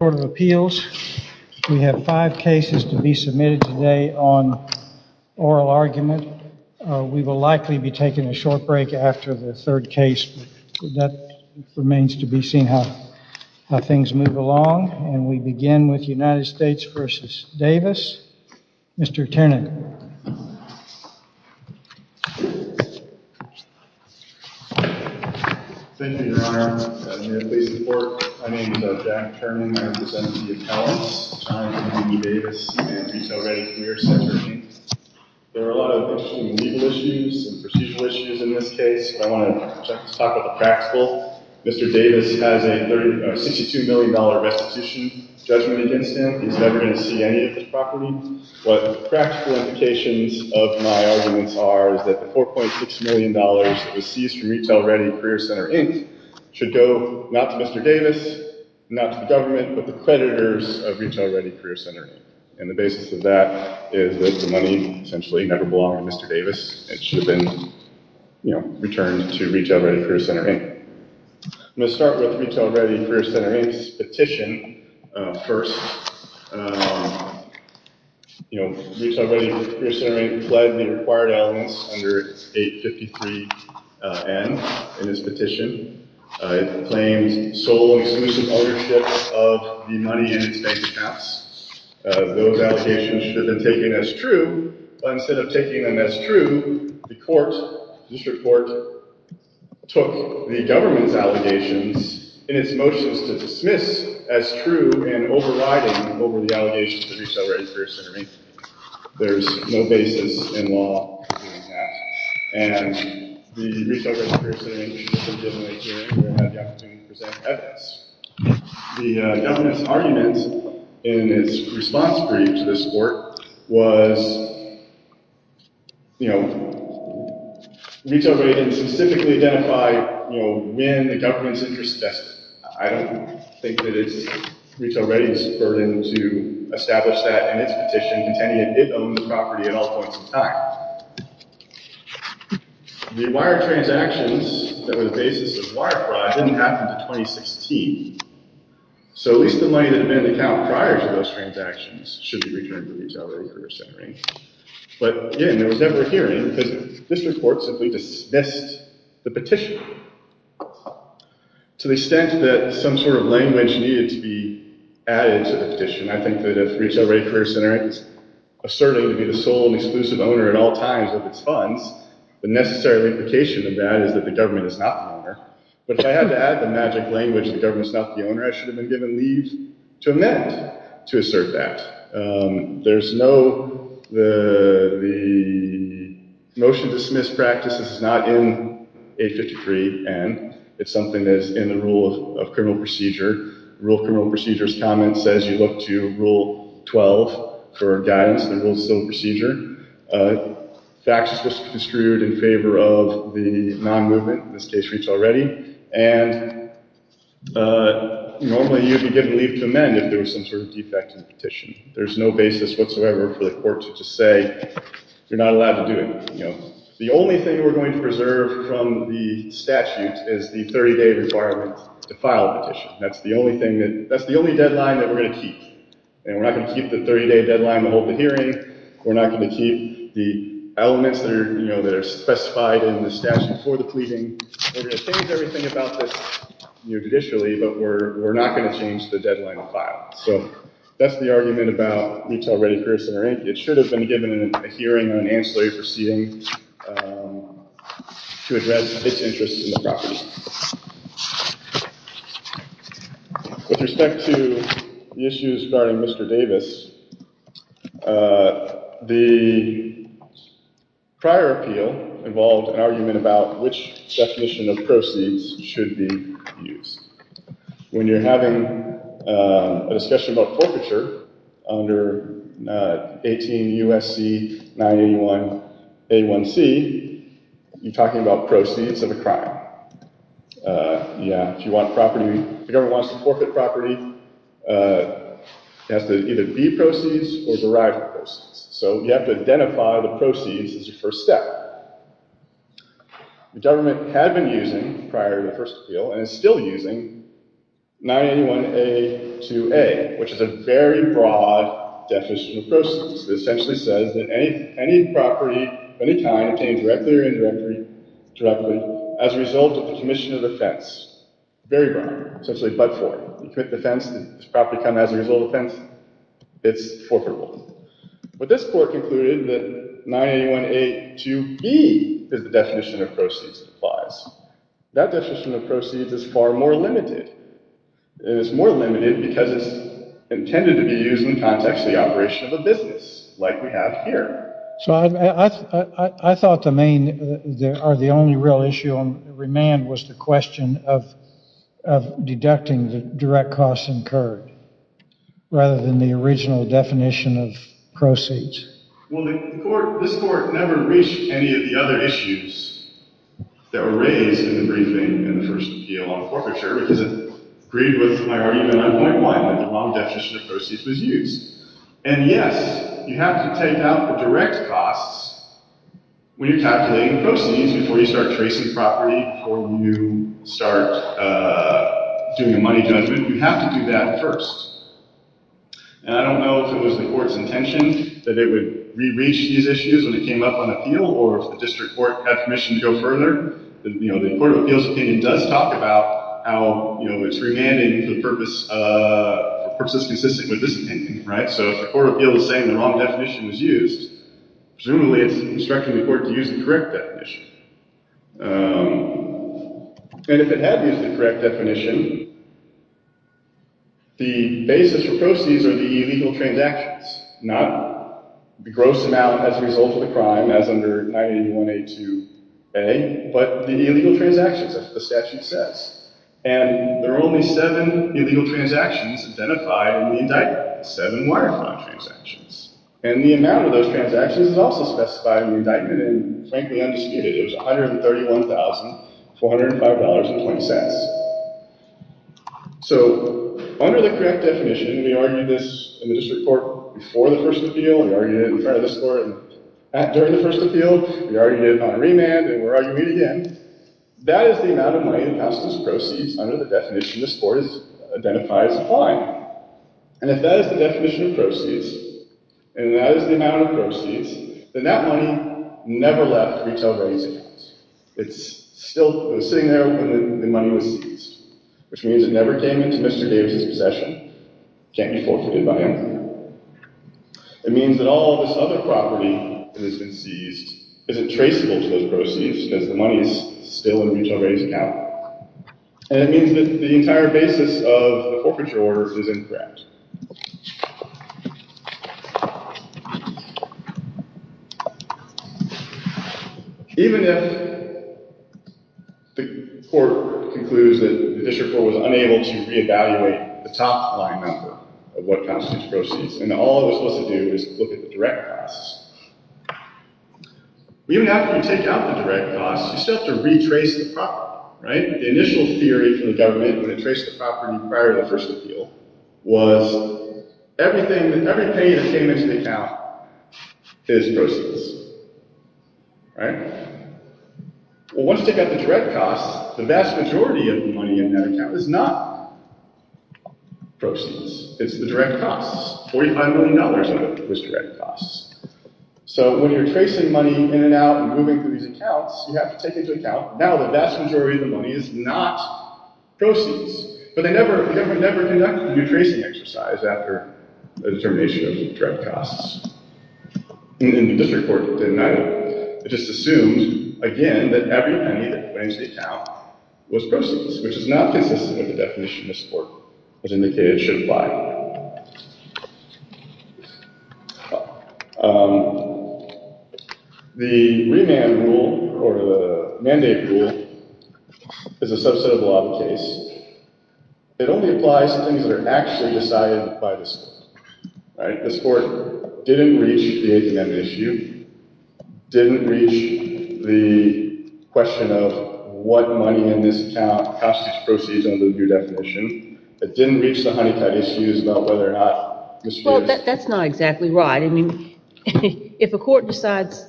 Court of Appeals. We have five cases to be submitted today on oral argument. We will likely be taking a short break after the third case. That remains to be seen how things move along, and we begin with United States v. Davis. Mr. Ternan. Thank you, Your Honor. I'm here to please report. My name is Jack Ternan. I represent the appellants, Chyne and Amy Davis, and I'm here for your sentencing. There are a lot of legal issues, and procedural issues in this case. I want to talk about the practical. Mr. Davis has a $62 million restitution judgment against him. He's never going to see any of the property. What the practical implications of my arguments are is that the $4.6 million that was seized from Retail Ready Career Center, Inc. should go not to Mr. Davis, not to the government, but the creditors of Retail Ready Career Center, and the basis of that is that the money essentially never belonged to Mr. Davis. It should have been returned to Retail Ready Career Center, Inc. I'm going to start with Retail Ready Career Center, Inc.'s petition first. You know, Retail Ready Career Center, Inc. pled the required elements under 853-N in its petition. It claims sole and exclusive ownership of the money in its bank accounts. Those allegations should have been taken as true, but instead of taking them as true, the court, the district court, took the government's allegations in its motions to dismiss as true and overriding over the allegations of Retail Ready Career Center, Inc. There's no basis in law in that. And the Retail Ready Career Center, Inc. should have been given a hearing where it had the evidence. The government's argument in its response brief to this court was, you know, Retail Ready specifically identified, you know, when the government's interest tested. I don't think that it's Retail Ready's burden to establish that in its petition, containing it owns the property at all points in time. The wire transactions that were the basis of wire fraud didn't happen until 2016. So at least the money that had been in the account prior to those transactions should be returned to Retail Ready Career Center, Inc. But again, there was never a hearing because the district court simply dismissed the petition. To the extent that some sort of language needed to be added to the petition, I think that if Retail Ready Career Center, Inc. is asserting to be the sole and exclusive owner at all times of its But if I had to add the magic language, the government's not the owner, I should have been given leave to amend to assert that. There's no motion to dismiss practice. This is not in 853N. It's something that's in the Rule of Criminal Procedure. The Rule of Criminal Procedure's comments says you look to Rule 12 for guidance, the Rule of Still Procedure. Facts were construed in favor of the non-movement, in this case Retail Ready. And normally you'd be given leave to amend if there was some sort of defect in the petition. There's no basis whatsoever for the court to just say you're not allowed to do anything. The only thing we're going to preserve from the statute is the 30-day requirement to file a petition. That's the only deadline that we're going to keep. And we're not going to keep the 30-day deadline to hold the hearing. We're not going to keep the elements that are specified in the statute for the pleading. We're going to change everything about this judicially, but we're not going to change the deadline to file. So that's the argument about Retail Ready, Pearson, or Inc. It should have been given a hearing or an ancillary proceeding to address its interest in the property. With respect to the issues regarding Mr. Davis, the prior appeal involved an argument about which definition of proceeds should be used. When you're having a discussion about forfeiture under 18 U.S.C. 981 A1c, you're talking about proceeds of a crime. If the government wants to forfeit property, it has to either be proceeds or derive proceeds. So you have to identify the proceeds as your first step. The government had been using, prior to the first appeal, and is still using, 981 A2a, which is a very broad definition of proceeds. It essentially says that any property of any kind, obtained directly or indirectly, as a result of the commission of offense. Very broad. Essentially, but-for. You commit the offense, does the property come as a result of the offense? It's forfeitable. But this court concluded that 981 A2b is the definition of proceeds. That definition of proceeds is far more limited. It is more limited because it's intended to be used in context of the operation of a business, like we have here. So I thought the main, or the only real issue on remand, was the question of deducting the direct costs incurred, rather than the original definition of proceeds. Well, this court never reached any of the other issues that were raised in the briefing in the first appeal on forfeiture, because it agreed with my argument on why the wrong definition of proceeds was used. And yes, you have to take out the direct costs when you're calculating proceeds, before you start tracing property, before you start doing a money judgment. You have to do that first. And I don't know if it was the court's intention that it would re-reach these issues when it came up on appeal, or if the district court had permission to go further. The Court of Appeals opinion does talk about how it's remanding for purposes consistent with this opinion. So if the Court of Appeals is saying the wrong definition was used, presumably it's instructing the court to use the correct definition. And if it had used the correct definition, the basis for proceeds are the illegal transactions, not the gross amount as a result of the crime, as under 981A2A, but the illegal transactions, as the statute says. And there are only seven illegal transactions identified in the indictment, seven wire-fraud transactions. And the amount of those transactions is also specified in the indictment, and frankly, undisputed, it was $131,405.20. So, under the correct definition, we argued this in the district court before the first appeal, we argued it in front of the court during the first appeal, we argued it on a remand, and we're arguing it again. That is the amount of money that passes as proceeds under the definition this court has identified as applying. And if that is the definition of proceeds, and that is the amount of proceeds, then that money never left retail raise accounts. It was sitting there when the money was seized, which means it never came into Mr. Davis' possession. It can't be forfeited by him. It means that all this other property that has been seized isn't traceable to those proceeds, because the money is still in a retail raise account. And it means that the entire basis of the forfeiture order is incorrect. Even if the court concludes that the district court was unable to re-evaluate the top line method of what constitutes proceeds, and all it was supposed to do was look at the direct costs, even after you take out the direct costs, you still have to retrace the property, right? The initial theory from the government when it traced the property prior to the first appeal was everything, every pay that came into the account is proceeds, right? Well, once you take out the direct costs, the vast majority of the money in that account is not proceeds. It's the direct costs. $45 million of it was direct costs. So when you're tracing money in and out and moving through these accounts, you have to take into account, now the vast majority of the money is not proceeds. But the government never conducted a retracing exercise after the determination of direct costs. And the district court did not. It just assumed, again, that every penny that went into the account was proceeds, which is not consistent with the definition this court has indicated should apply. Now, the remand rule, or the mandate rule, is a subset of the law of the case. It only applies to things that are actually decided by the court. This court didn't reach the H&M issue, didn't reach the question of what money in this account constitutes proceeds It didn't reach the Honeycutt issues about whether or not... Well, that's not exactly right. I mean, if a court decides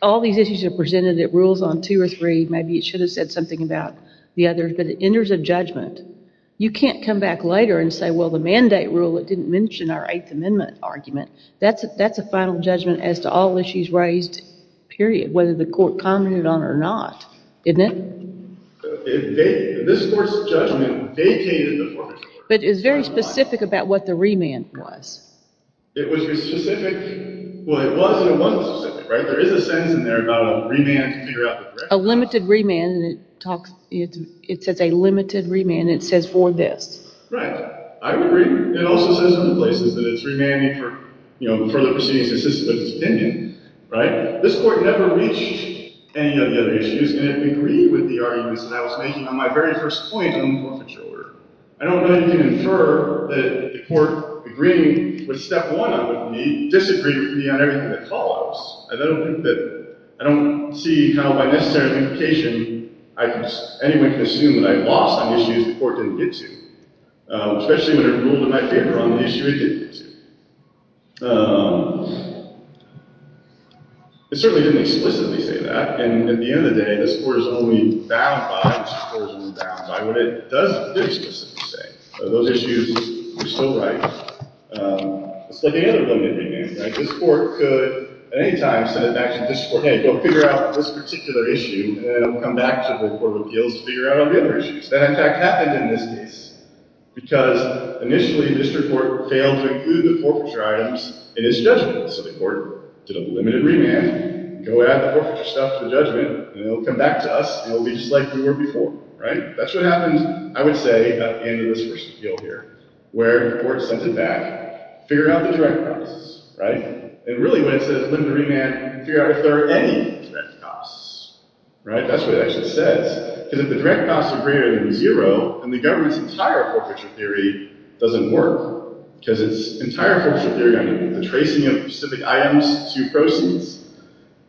all these issues are presented at rules on 2 or 3, maybe it should have said something about the others, but it enters a judgment. You can't come back later and say, well, the mandate rule, it didn't mention our 8th Amendment argument. That's a final judgment as to all issues raised, period, whether the court commented on it or not, isn't it? This court's judgment vacated the formative court. But it's very specific about what the remand was. It was specific. Well, it was and it wasn't specific, right? There is a sentence in there about a remand to figure out the correctness. A limited remand, and it says a limited remand, and it says for this. Right. I agree. It also says in some places that it's remanding for, you know, further proceedings consistent with its opinion, right? This court never reached any of the other issues, and it agreed with the arguments that I was making on my very first point on the forfeiture order. I don't know that you can infer that the court, agreeing with step 1 on what we need, disagreed with me on everything that follows. I don't think that – I don't see how by necessary implication anyone can assume that I lost on issues the court didn't get to, especially when it ruled in my favor on the issue it did get to. It certainly didn't explicitly say that, and at the end of the day, this court is only bound by what it does explicitly say. Those issues are still right. It's like any other limited remand, right? This court could, at any time, send it back to the district court, hey, go figure out this particular issue, and then it'll come back to the court of appeals to figure out all the other issues. That, in fact, happened in this case, because initially the district court failed to include the forfeiture items in its judgment. So the court did a limited remand, go add the forfeiture stuff to the judgment, and it'll come back to us, and it'll be just like we were before, right? That's what happened, I would say, at the end of this first appeal here, where the court sent it back, figure out the direct costs, right? And really, when it says limited remand, figure out if there are any direct costs, right? That's what it actually says, because if the direct costs are greater than zero, then the government's entire forfeiture theory doesn't work, because its entire forfeiture theory, I mean, the tracing of specific items to proceeds,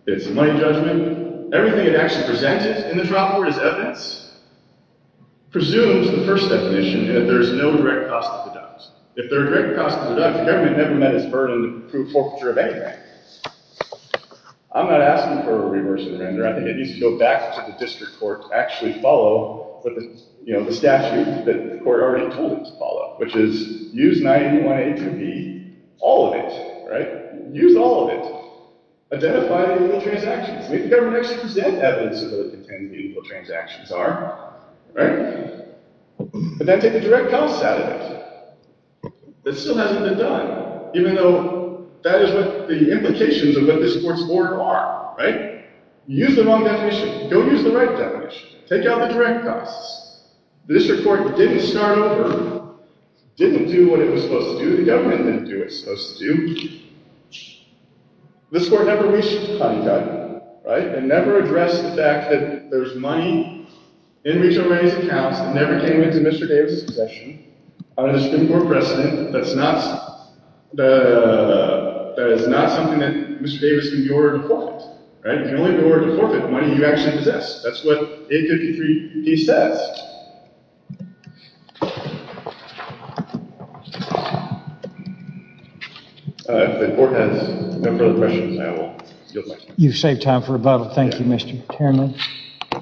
it's a money judgment, everything it actually presented in the trial court is evidence, presumes the first definition, and that there is no direct cost to the judge. If there are direct costs to the judge, the government never met its burden to prove forfeiture of anything. I'm not asking for a reverse remander. I think it needs to go back to the district court to actually follow the statute that the court already told it to follow, which is use 981A to B, all of it, right? Use all of it. Identify the illegal transactions. Maybe the government actually presents evidence of what the intended illegal transactions are, right? But then take the direct costs out of it. It still hasn't been done, even though that is what the implications of what this court's order are, right? Use the wrong definition. Go use the right definition. Take out the direct costs. The district court didn't start over, didn't do what it was supposed to do. The government didn't do what it was supposed to do. This court never reached a cut-and-cut, right? It never addressed the fact that there's money in Rachel Ray's account that never came into Mr. Davis' possession. There's been more precedent. That is not something that Mr. Davis can be ordered to forfeit, right? You can only be ordered to forfeit the money you actually possess. That's what 853D says. If the court has no further questions, I will yield my time. You've saved time for rebuttal. Thank you, Mr. Chairman. Good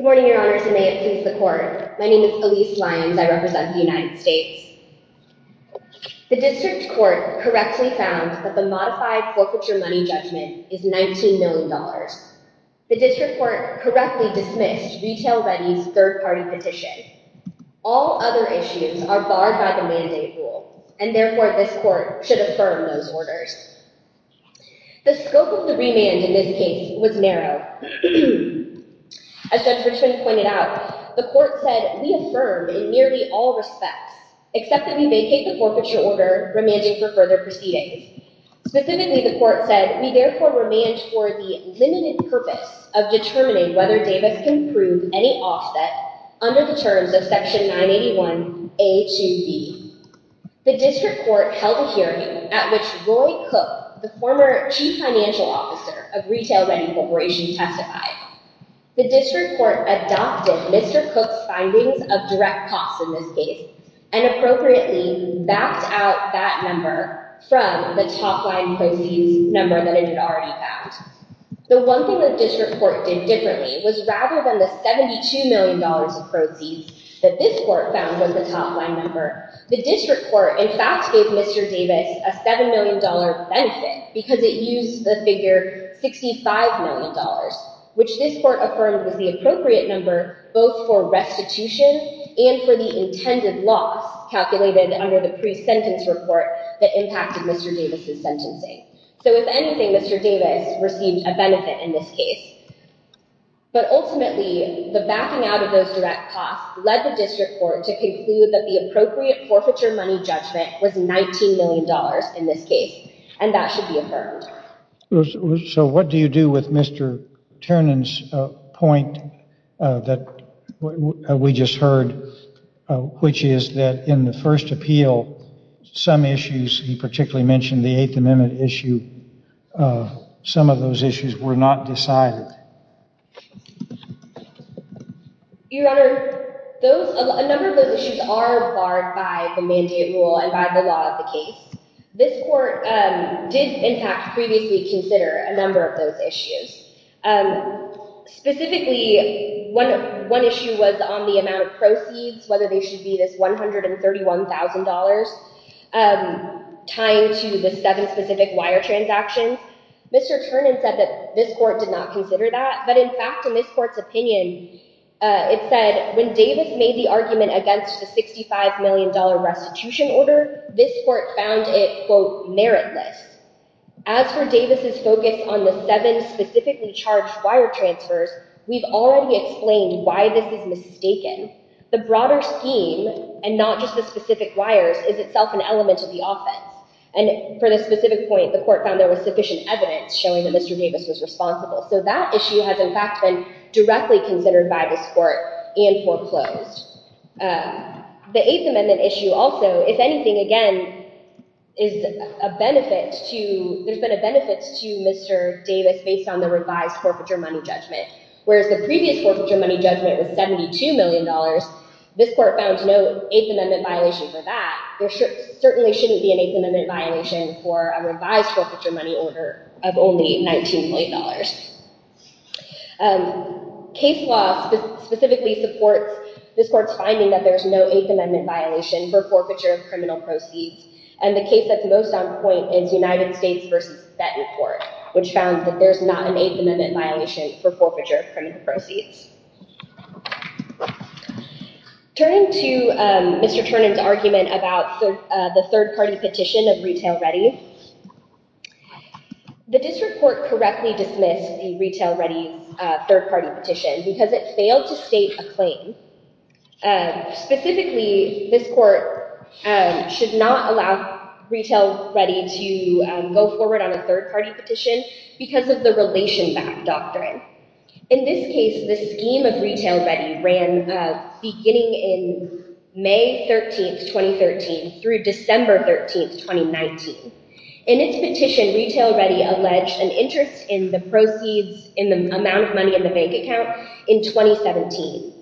morning, Your Honors, and may it please the Court. My name is Elise Lyons. I represent the United States. The district court correctly found that the modified forfeiture money judgment is $19 million. The district court correctly dismissed Retail Ready's third-party petition. All other issues are barred by the mandate rule, and therefore this court should affirm those orders. The scope of the remand in this case was narrow. As Judge Richman pointed out, the court said, We affirm in nearly all respects, except that we vacate the forfeiture order, remanding for further proceedings. Specifically, the court said, We therefore remand for the limited purpose of determining whether Davis can prove any offset under the terms of Section 981A-2B. The district court held a hearing at which Roy Cook, the former chief financial officer of Retail Ready Corporation, testified. The district court adopted Mr. Cook's findings of direct costs in this case, and appropriately backed out that number from the top-line proceeds number that it had already found. The one thing the district court did differently was, rather than the $72 million of proceeds that this court found was the top-line number, the district court, in fact, gave Mr. Davis a $7 million benefit because it used the figure $65 million, which this court affirmed was the appropriate number both for restitution and for the intended loss calculated under the pre-sentence report that impacted Mr. Davis' sentencing. So, if anything, Mr. Davis received a benefit in this case. But ultimately, the backing out of those direct costs led the district court to conclude that the appropriate forfeiture money judgment was $19 million in this case, and that should be affirmed. So, what do you do with Mr. Ternan's point that we just heard, which is that in the first appeal, some issues, he particularly mentioned the Eighth Amendment issue, some of those issues were not decided. Your Honor, a number of those issues are acquired by the mandate rule and by the law of the case. This court did, in fact, previously consider a number of those issues. Specifically, one issue was on the amount of proceeds, whether they should be this $131,000 tying to the seven specific wire transactions. Mr. Ternan said that this court did not consider that, but in fact, in this court's opinion, it said, when Davis made the argument against the $65 million restitution order, this court found it, quote, meritless. As for Davis' focus on the seven specifically charged wire transfers, we've already explained why this is mistaken. The broader scheme, and not just the specific wires, is itself an element of the offense. And for this specific point, the court found there was sufficient evidence showing that Mr. Davis was responsible. So that issue has, in fact, been directly considered by this court and foreclosed. The Eighth Amendment issue also, if anything, again, there's been a benefit to Mr. Davis based on the revised forfeiture money judgment. Whereas the previous forfeiture money judgment was $72 million, this court found no Eighth Amendment violation for that. There certainly shouldn't be an Eighth Amendment violation for a revised forfeiture money order of only $19 million. Case law specifically supports this court's finding that there's no Eighth Amendment violation for forfeiture of criminal proceeds. And the case that's most on point is United States v. Bettencourt, which found that there's not an Eighth Amendment violation for forfeiture of criminal proceeds. Turning to Mr. Turnin's argument about the third-party petition of Retail Ready, the district court correctly dismissed the Retail Ready's third-party petition because it failed to state a claim. Specifically, this court should not allow Retail Ready to go forward on a third-party petition because of the relation back doctrine. In this case, the scheme of Retail Ready ran beginning in May 13, 2013 through December 13, 2019. In its petition, Retail Ready alleged an interest in the proceeds in the amount of money in the bank account in 2017.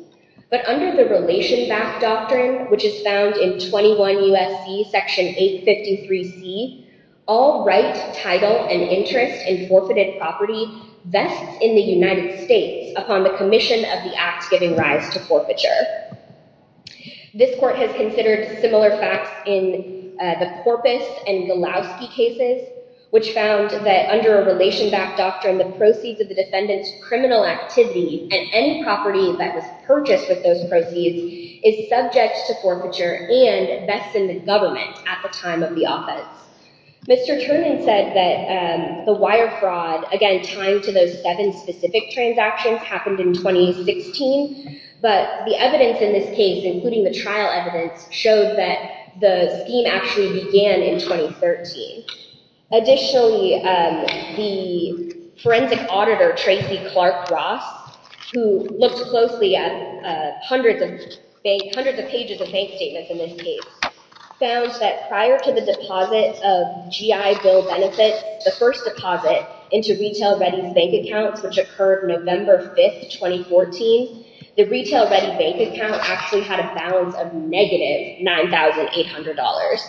But under the relation back doctrine, which is found in 21 U.S.C. Section 853C, all right, title, and interest in forfeited property vests in the United States upon the commission of the act giving rise to forfeiture. This court has considered similar facts in the Corpus and Galowski cases, which found that under a relation back doctrine, the proceeds of the defendant's criminal activity and any property that was purchased with those proceeds is subject to forfeiture and vests in the government at the time of the offense. Mr. Turnin said that the wire fraud, again, tied to those seven specific transactions, happened in 2016. But the evidence in this case, including the trial evidence, showed that the scheme actually began in 2013. Additionally, the forensic auditor, Tracy Clark Ross, who looked closely at hundreds of pages of bank statements in this case, found that prior to the deposit of GI Bill benefit, the first deposit into Retail Ready's bank accounts, which occurred November 5, 2014, the Retail Ready bank account actually had a balance of negative $9,800.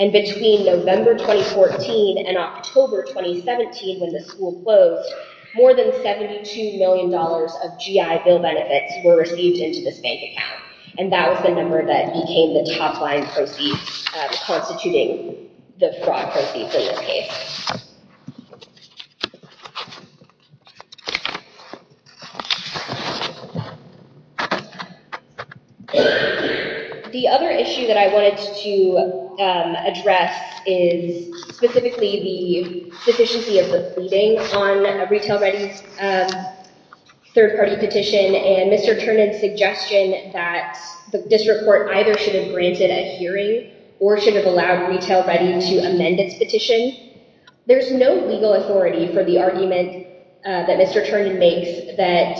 And between November 2014 and October 2017, when the school closed, more than $72 million of GI Bill benefits were received into this bank account. And that was the number that became the top-line proceeds, constituting the fraud proceeds in this case. The other issue that I wanted to address is specifically the deficiency of the fleeting on Retail Ready's third-party petition. And Mr. Turnin's suggestion that the district court either should have granted a hearing or should have allowed Retail Ready to amend its petition. There's no legal authority for the argument that Mr. Turnin makes that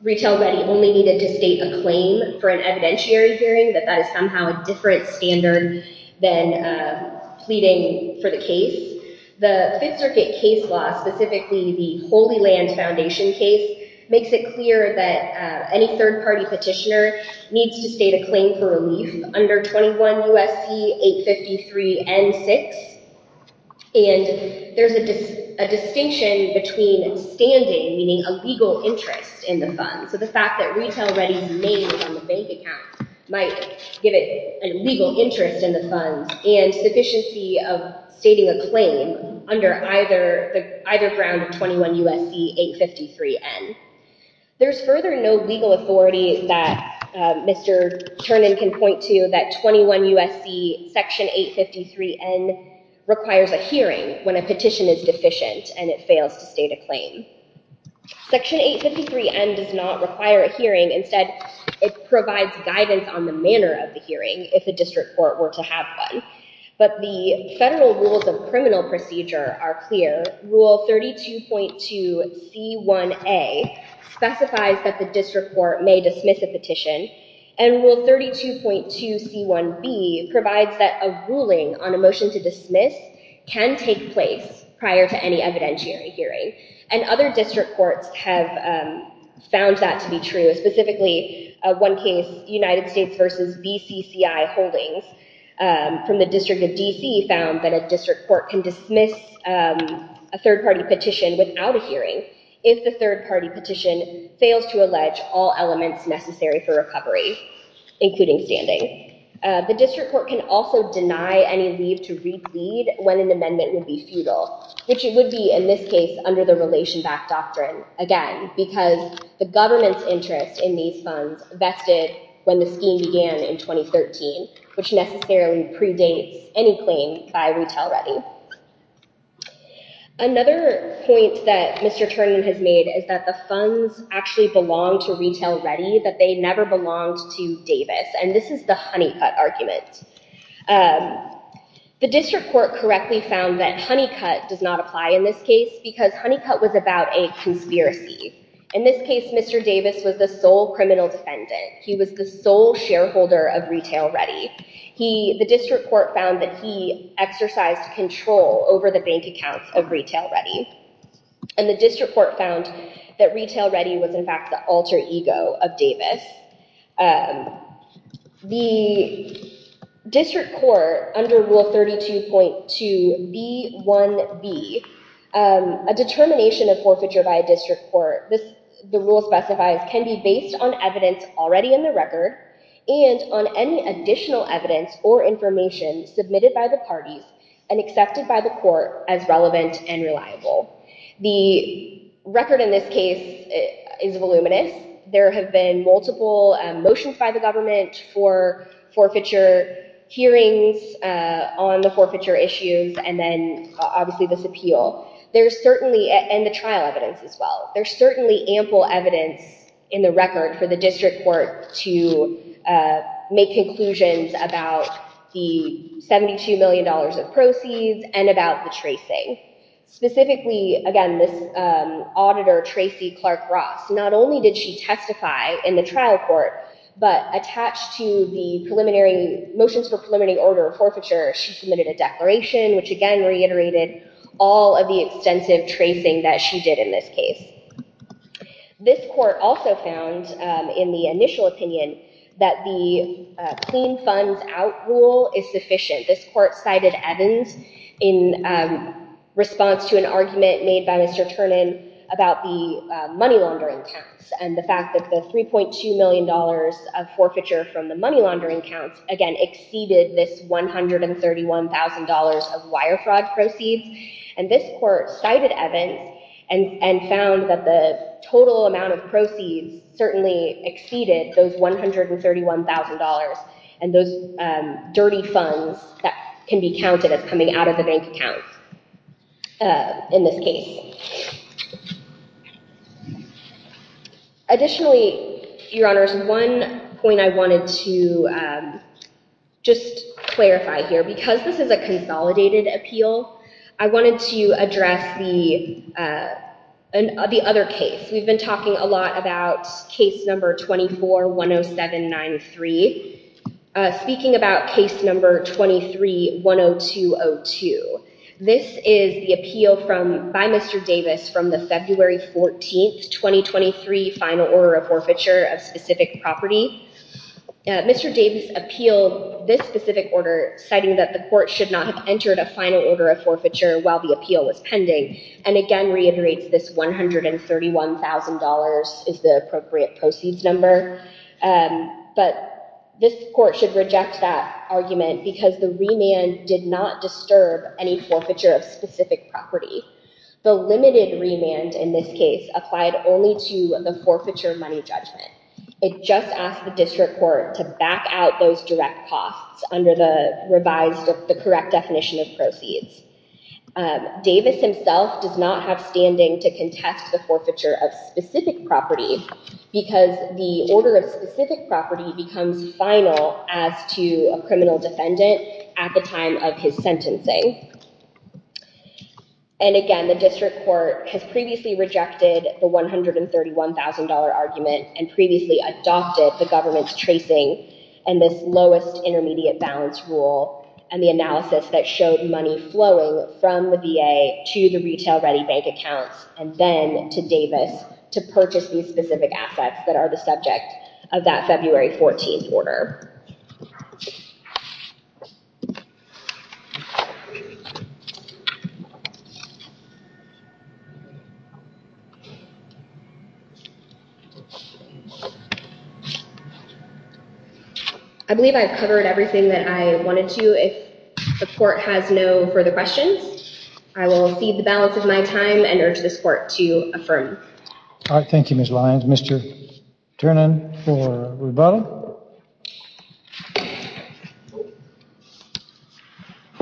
Retail Ready only needed to state a claim for an evidentiary hearing, that that is somehow a different standard than pleading for the case. The Fifth Circuit case law, specifically the Holy Land Foundation case, makes it clear that any third-party petitioner needs to state a claim for relief under 21 U.S.C. 853 N6. And there's a distinction between standing, meaning a legal interest in the funds, so the fact that Retail Ready's name is on the bank account might give it a legal interest in the funds, and sufficiency of stating a claim under either ground of 21 U.S.C. 853 N. There's further no legal authority that Mr. Turnin can point to that 21 U.S.C. section 853 N requires a hearing when a petition is deficient and it fails to state a claim. Section 853 N does not require a hearing. Instead, it provides guidance on the manner of the hearing if the district court were to have one. But the federal rules of criminal procedure are clear. Rule 32.2 C.1.A specifies that the district court may dismiss a petition, and Rule 32.2 C.1.B provides that a ruling on a motion to dismiss can take place prior to any evidentiary hearing, and other district courts have found that to be true. Specifically, one case, United States v. BCCI Holdings from the District of D.C. found that a district court can dismiss a third-party petition without a hearing if the third-party petition fails to allege all elements necessary for recovery, including standing. The district court can also deny any leave to read when an amendment would be futile, which it would be in this case under the relation-backed doctrine, again, because the government's interest in these funds vested when the scheme began in 2013, which necessarily predates any claim by RetailReady. Another point that Mr. Turnin has made is that the funds actually belong to RetailReady, that they never belonged to Davis, and this is the Honeycutt argument. The district court correctly found that Honeycutt does not apply in this case because Honeycutt was about a conspiracy. In this case, Mr. Davis was the sole criminal defendant. He was the sole shareholder of RetailReady. The district court found that he exercised control over the bank accounts of RetailReady, and the district court found that RetailReady was, in fact, the alter ego of Davis. The district court, under Rule 32.2b1b, a determination of forfeiture by a district court, the rule specifies, can be based on evidence already in the record and on any additional evidence or information submitted by the parties and accepted by the court as relevant and reliable. The record in this case is voluminous. There have been multiple motions by the government for forfeiture hearings on the forfeiture issues and then obviously this appeal, and the trial evidence as well. There's certainly ample evidence in the record for the district court to make conclusions about the $72 million of proceeds and about the tracing. Specifically, again, this auditor, Tracy Clark-Ross, not only did she testify in the trial court, but attached to the motions for preliminary order of forfeiture, she submitted a declaration, which again reiterated all of the extensive tracing that she did in this case. This court also found, in the initial opinion, that the clean funds out rule is sufficient. This court cited Evans in response to an argument made by Mr. Ternan about the money laundering tax and the fact that the $3.2 million of forfeiture from the money laundering accounts, again, exceeded this $131,000 of wire fraud proceeds. And this court cited Evans and found that the total amount of proceeds certainly exceeded those $131,000 and those dirty funds that can be counted as coming out of the bank account in this case. Additionally, Your Honors, one point I wanted to just clarify here, because this is a consolidated appeal, I wanted to address the other case. We've been talking a lot about case number 24-10793. Speaking about case number 23-10202, this is the appeal by Mr. Davis from the February 14th, 2023, final order of forfeiture of specific property. Mr. Davis appealed this specific order, citing that the court should not have entered a final order of forfeiture while the appeal was pending, and again reiterates this $131,000 is the appropriate proceeds number. But this court should reject that argument because the remand did not disturb any forfeiture of specific property. The limited remand in this case applied only to the forfeiture money judgment. It just asked the district court to back out those direct costs under the revised, the correct definition of proceeds. Davis himself does not have standing to contest the forfeiture of specific property because the order of specific property becomes final as to a criminal defendant at the time of his sentencing. And again, the district court has previously rejected the $131,000 argument and previously adopted the government's tracing and this lowest intermediate balance rule and the analysis that showed money flowing from the VA to the retail-ready bank accounts and then to Davis to purchase these specific assets that are the subject of that February 14th order. I believe I've covered everything that I wanted to. If the court has no further questions, I will feed the balance of my time and urge this court to affirm. All right. Thank you, Ms. Lyons. Mr. Ternan for Rubado?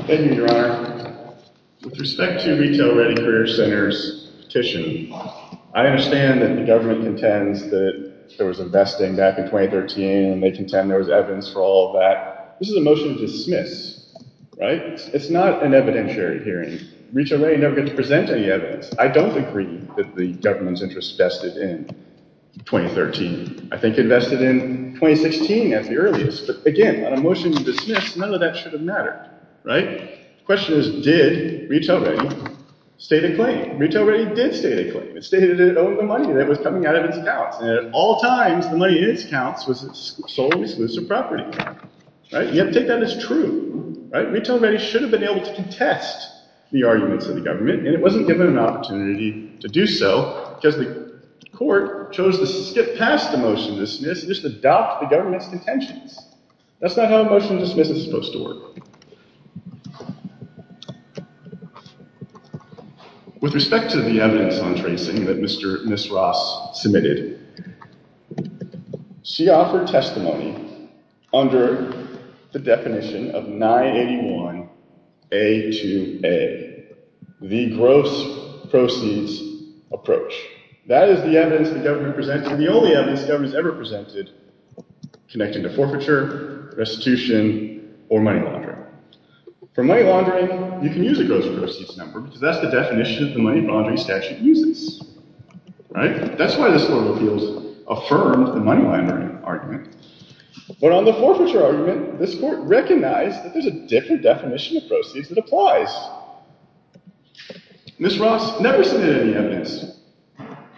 Thank you, Your Honor. With respect to Retail-Ready Career Center's petition, I understand that the government contends that there was investing back in 2013 and they contend there was evidence for all that. This is a motion to dismiss, right? It's not an evidentiary hearing. Retail-Ready never got to present any evidence. I don't agree that the government's interest vested in 2013. I think it invested in 2016 as the earliest. But again, on a motion to dismiss, none of that should have mattered, right? The question is, did Retail-Ready state a claim? Retail-Ready did state a claim. It stated it owed the money that was coming out of its accounts. And at all times, the money in its accounts was solely exclusive property, right? You have to take that as true, right? Retail-Ready should have been able to contest the arguments of the government and it wasn't given an opportunity to do so because the court chose to skip past a motion to dismiss and just adopt the government's contentions. That's not how a motion to dismiss is supposed to work. With respect to the evidence on tracing that Ms. Ross submitted, she offered testimony under the definition of 981A2A, the gross proceeds approach. That is the evidence the government presented and the only evidence the government has ever presented connected to forfeiture, restitution, or money laundering. For money laundering, you can use a gross proceeds number because that's the definition that the money laundering statute uses, right? That's why this court of appeals affirmed the money laundering argument. But on the forfeiture argument, this court recognized that there's a different definition of proceeds that applies. Ms. Ross never submitted any evidence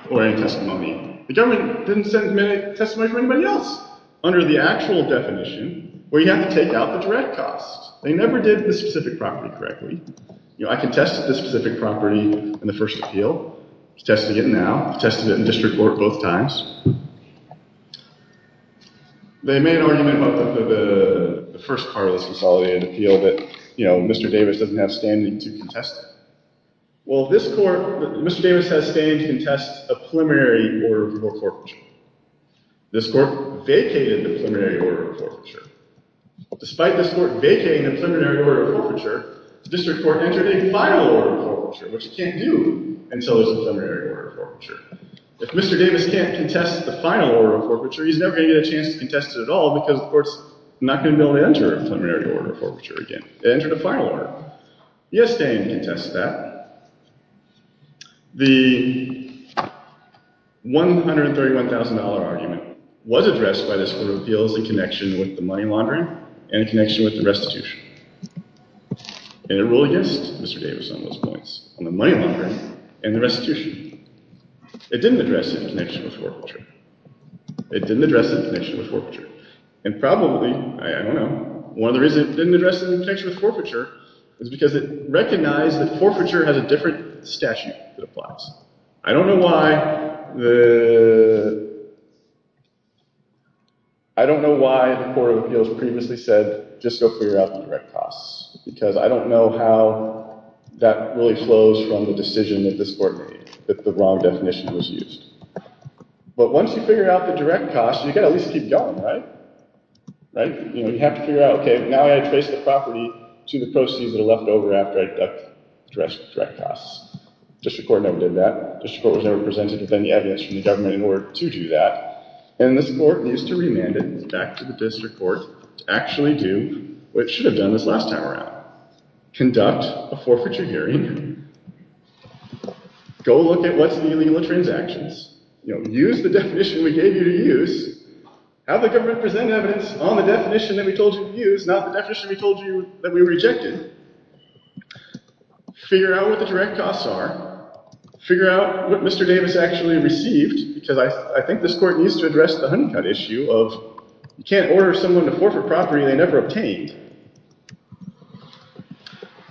or any testimony. The government didn't submit any testimony for anybody else under the actual definition where you have to take out the direct costs. They never did the specific property correctly. I contested the specific property in the first appeal. I'm contesting it now. I've contested it in district court both times. They made an argument about the first part of this consolidated appeal that Mr. Davis doesn't have standing to contest it. Well, this court, Mr. Davis has standing to contest a preliminary order for forfeiture. This court vacated the preliminary order for forfeiture. Despite this court vacating the preliminary order for forfeiture, the district court entered a final order for forfeiture, which it can't do until there's a preliminary order for forfeiture. If Mr. Davis can't contest the final order for forfeiture, he's never going to get a chance to contest it at all because the court's not going to be able to enter a preliminary order for forfeiture again. It entered a final order. He has standing to contest that. The $131,000 argument was addressed by this court of appeals in connection with the money laundering and in connection with the restitution. And it ruled against Mr. Davis on those points, on the money laundering and the restitution. It didn't address it in connection with forfeiture. It didn't address it in connection with forfeiture. And probably, I don't know, one of the reasons it didn't address it in connection with forfeiture is because it recognized that forfeiture has a different statute that applies. I don't know why the court of appeals previously said, just go figure out the direct costs, because I don't know how that really flows from the decision that this court made, that the wrong definition was used. But once you figure out the direct costs, you've got to at least keep going, right? You have to figure out, okay, now I trace the property to the proceeds that are left over after I deduct the direct costs. The district court never did that. The district court was never presented with any evidence from the government in order to do that. And this court needs to remand it back to the district court to actually do what it should have done this last time around. Conduct a forfeiture hearing. Go look at what's the illegal transactions. Use the definition we gave you to use. Have the government present evidence on the definition that we told you to use, not the definition we told you that we rejected. Figure out what the direct costs are. Figure out what Mr. Davis actually received, because I think this court needs to address the honeycut issue of you can't order someone to forfeit property they never obtained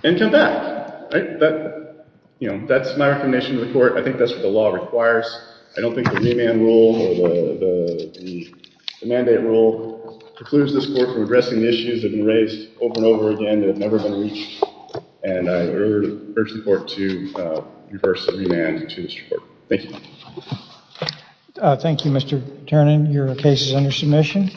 and come back. That's my recommendation to the court. I think that's what the law requires. I don't think the remand rule or the mandate rule precludes this court from addressing the issues that have been raised over and over again that have never been reached, and I urge the court to reverse the remand to the district court. Thank you. Thank you, Mr. Tiernan. Your case is under submission.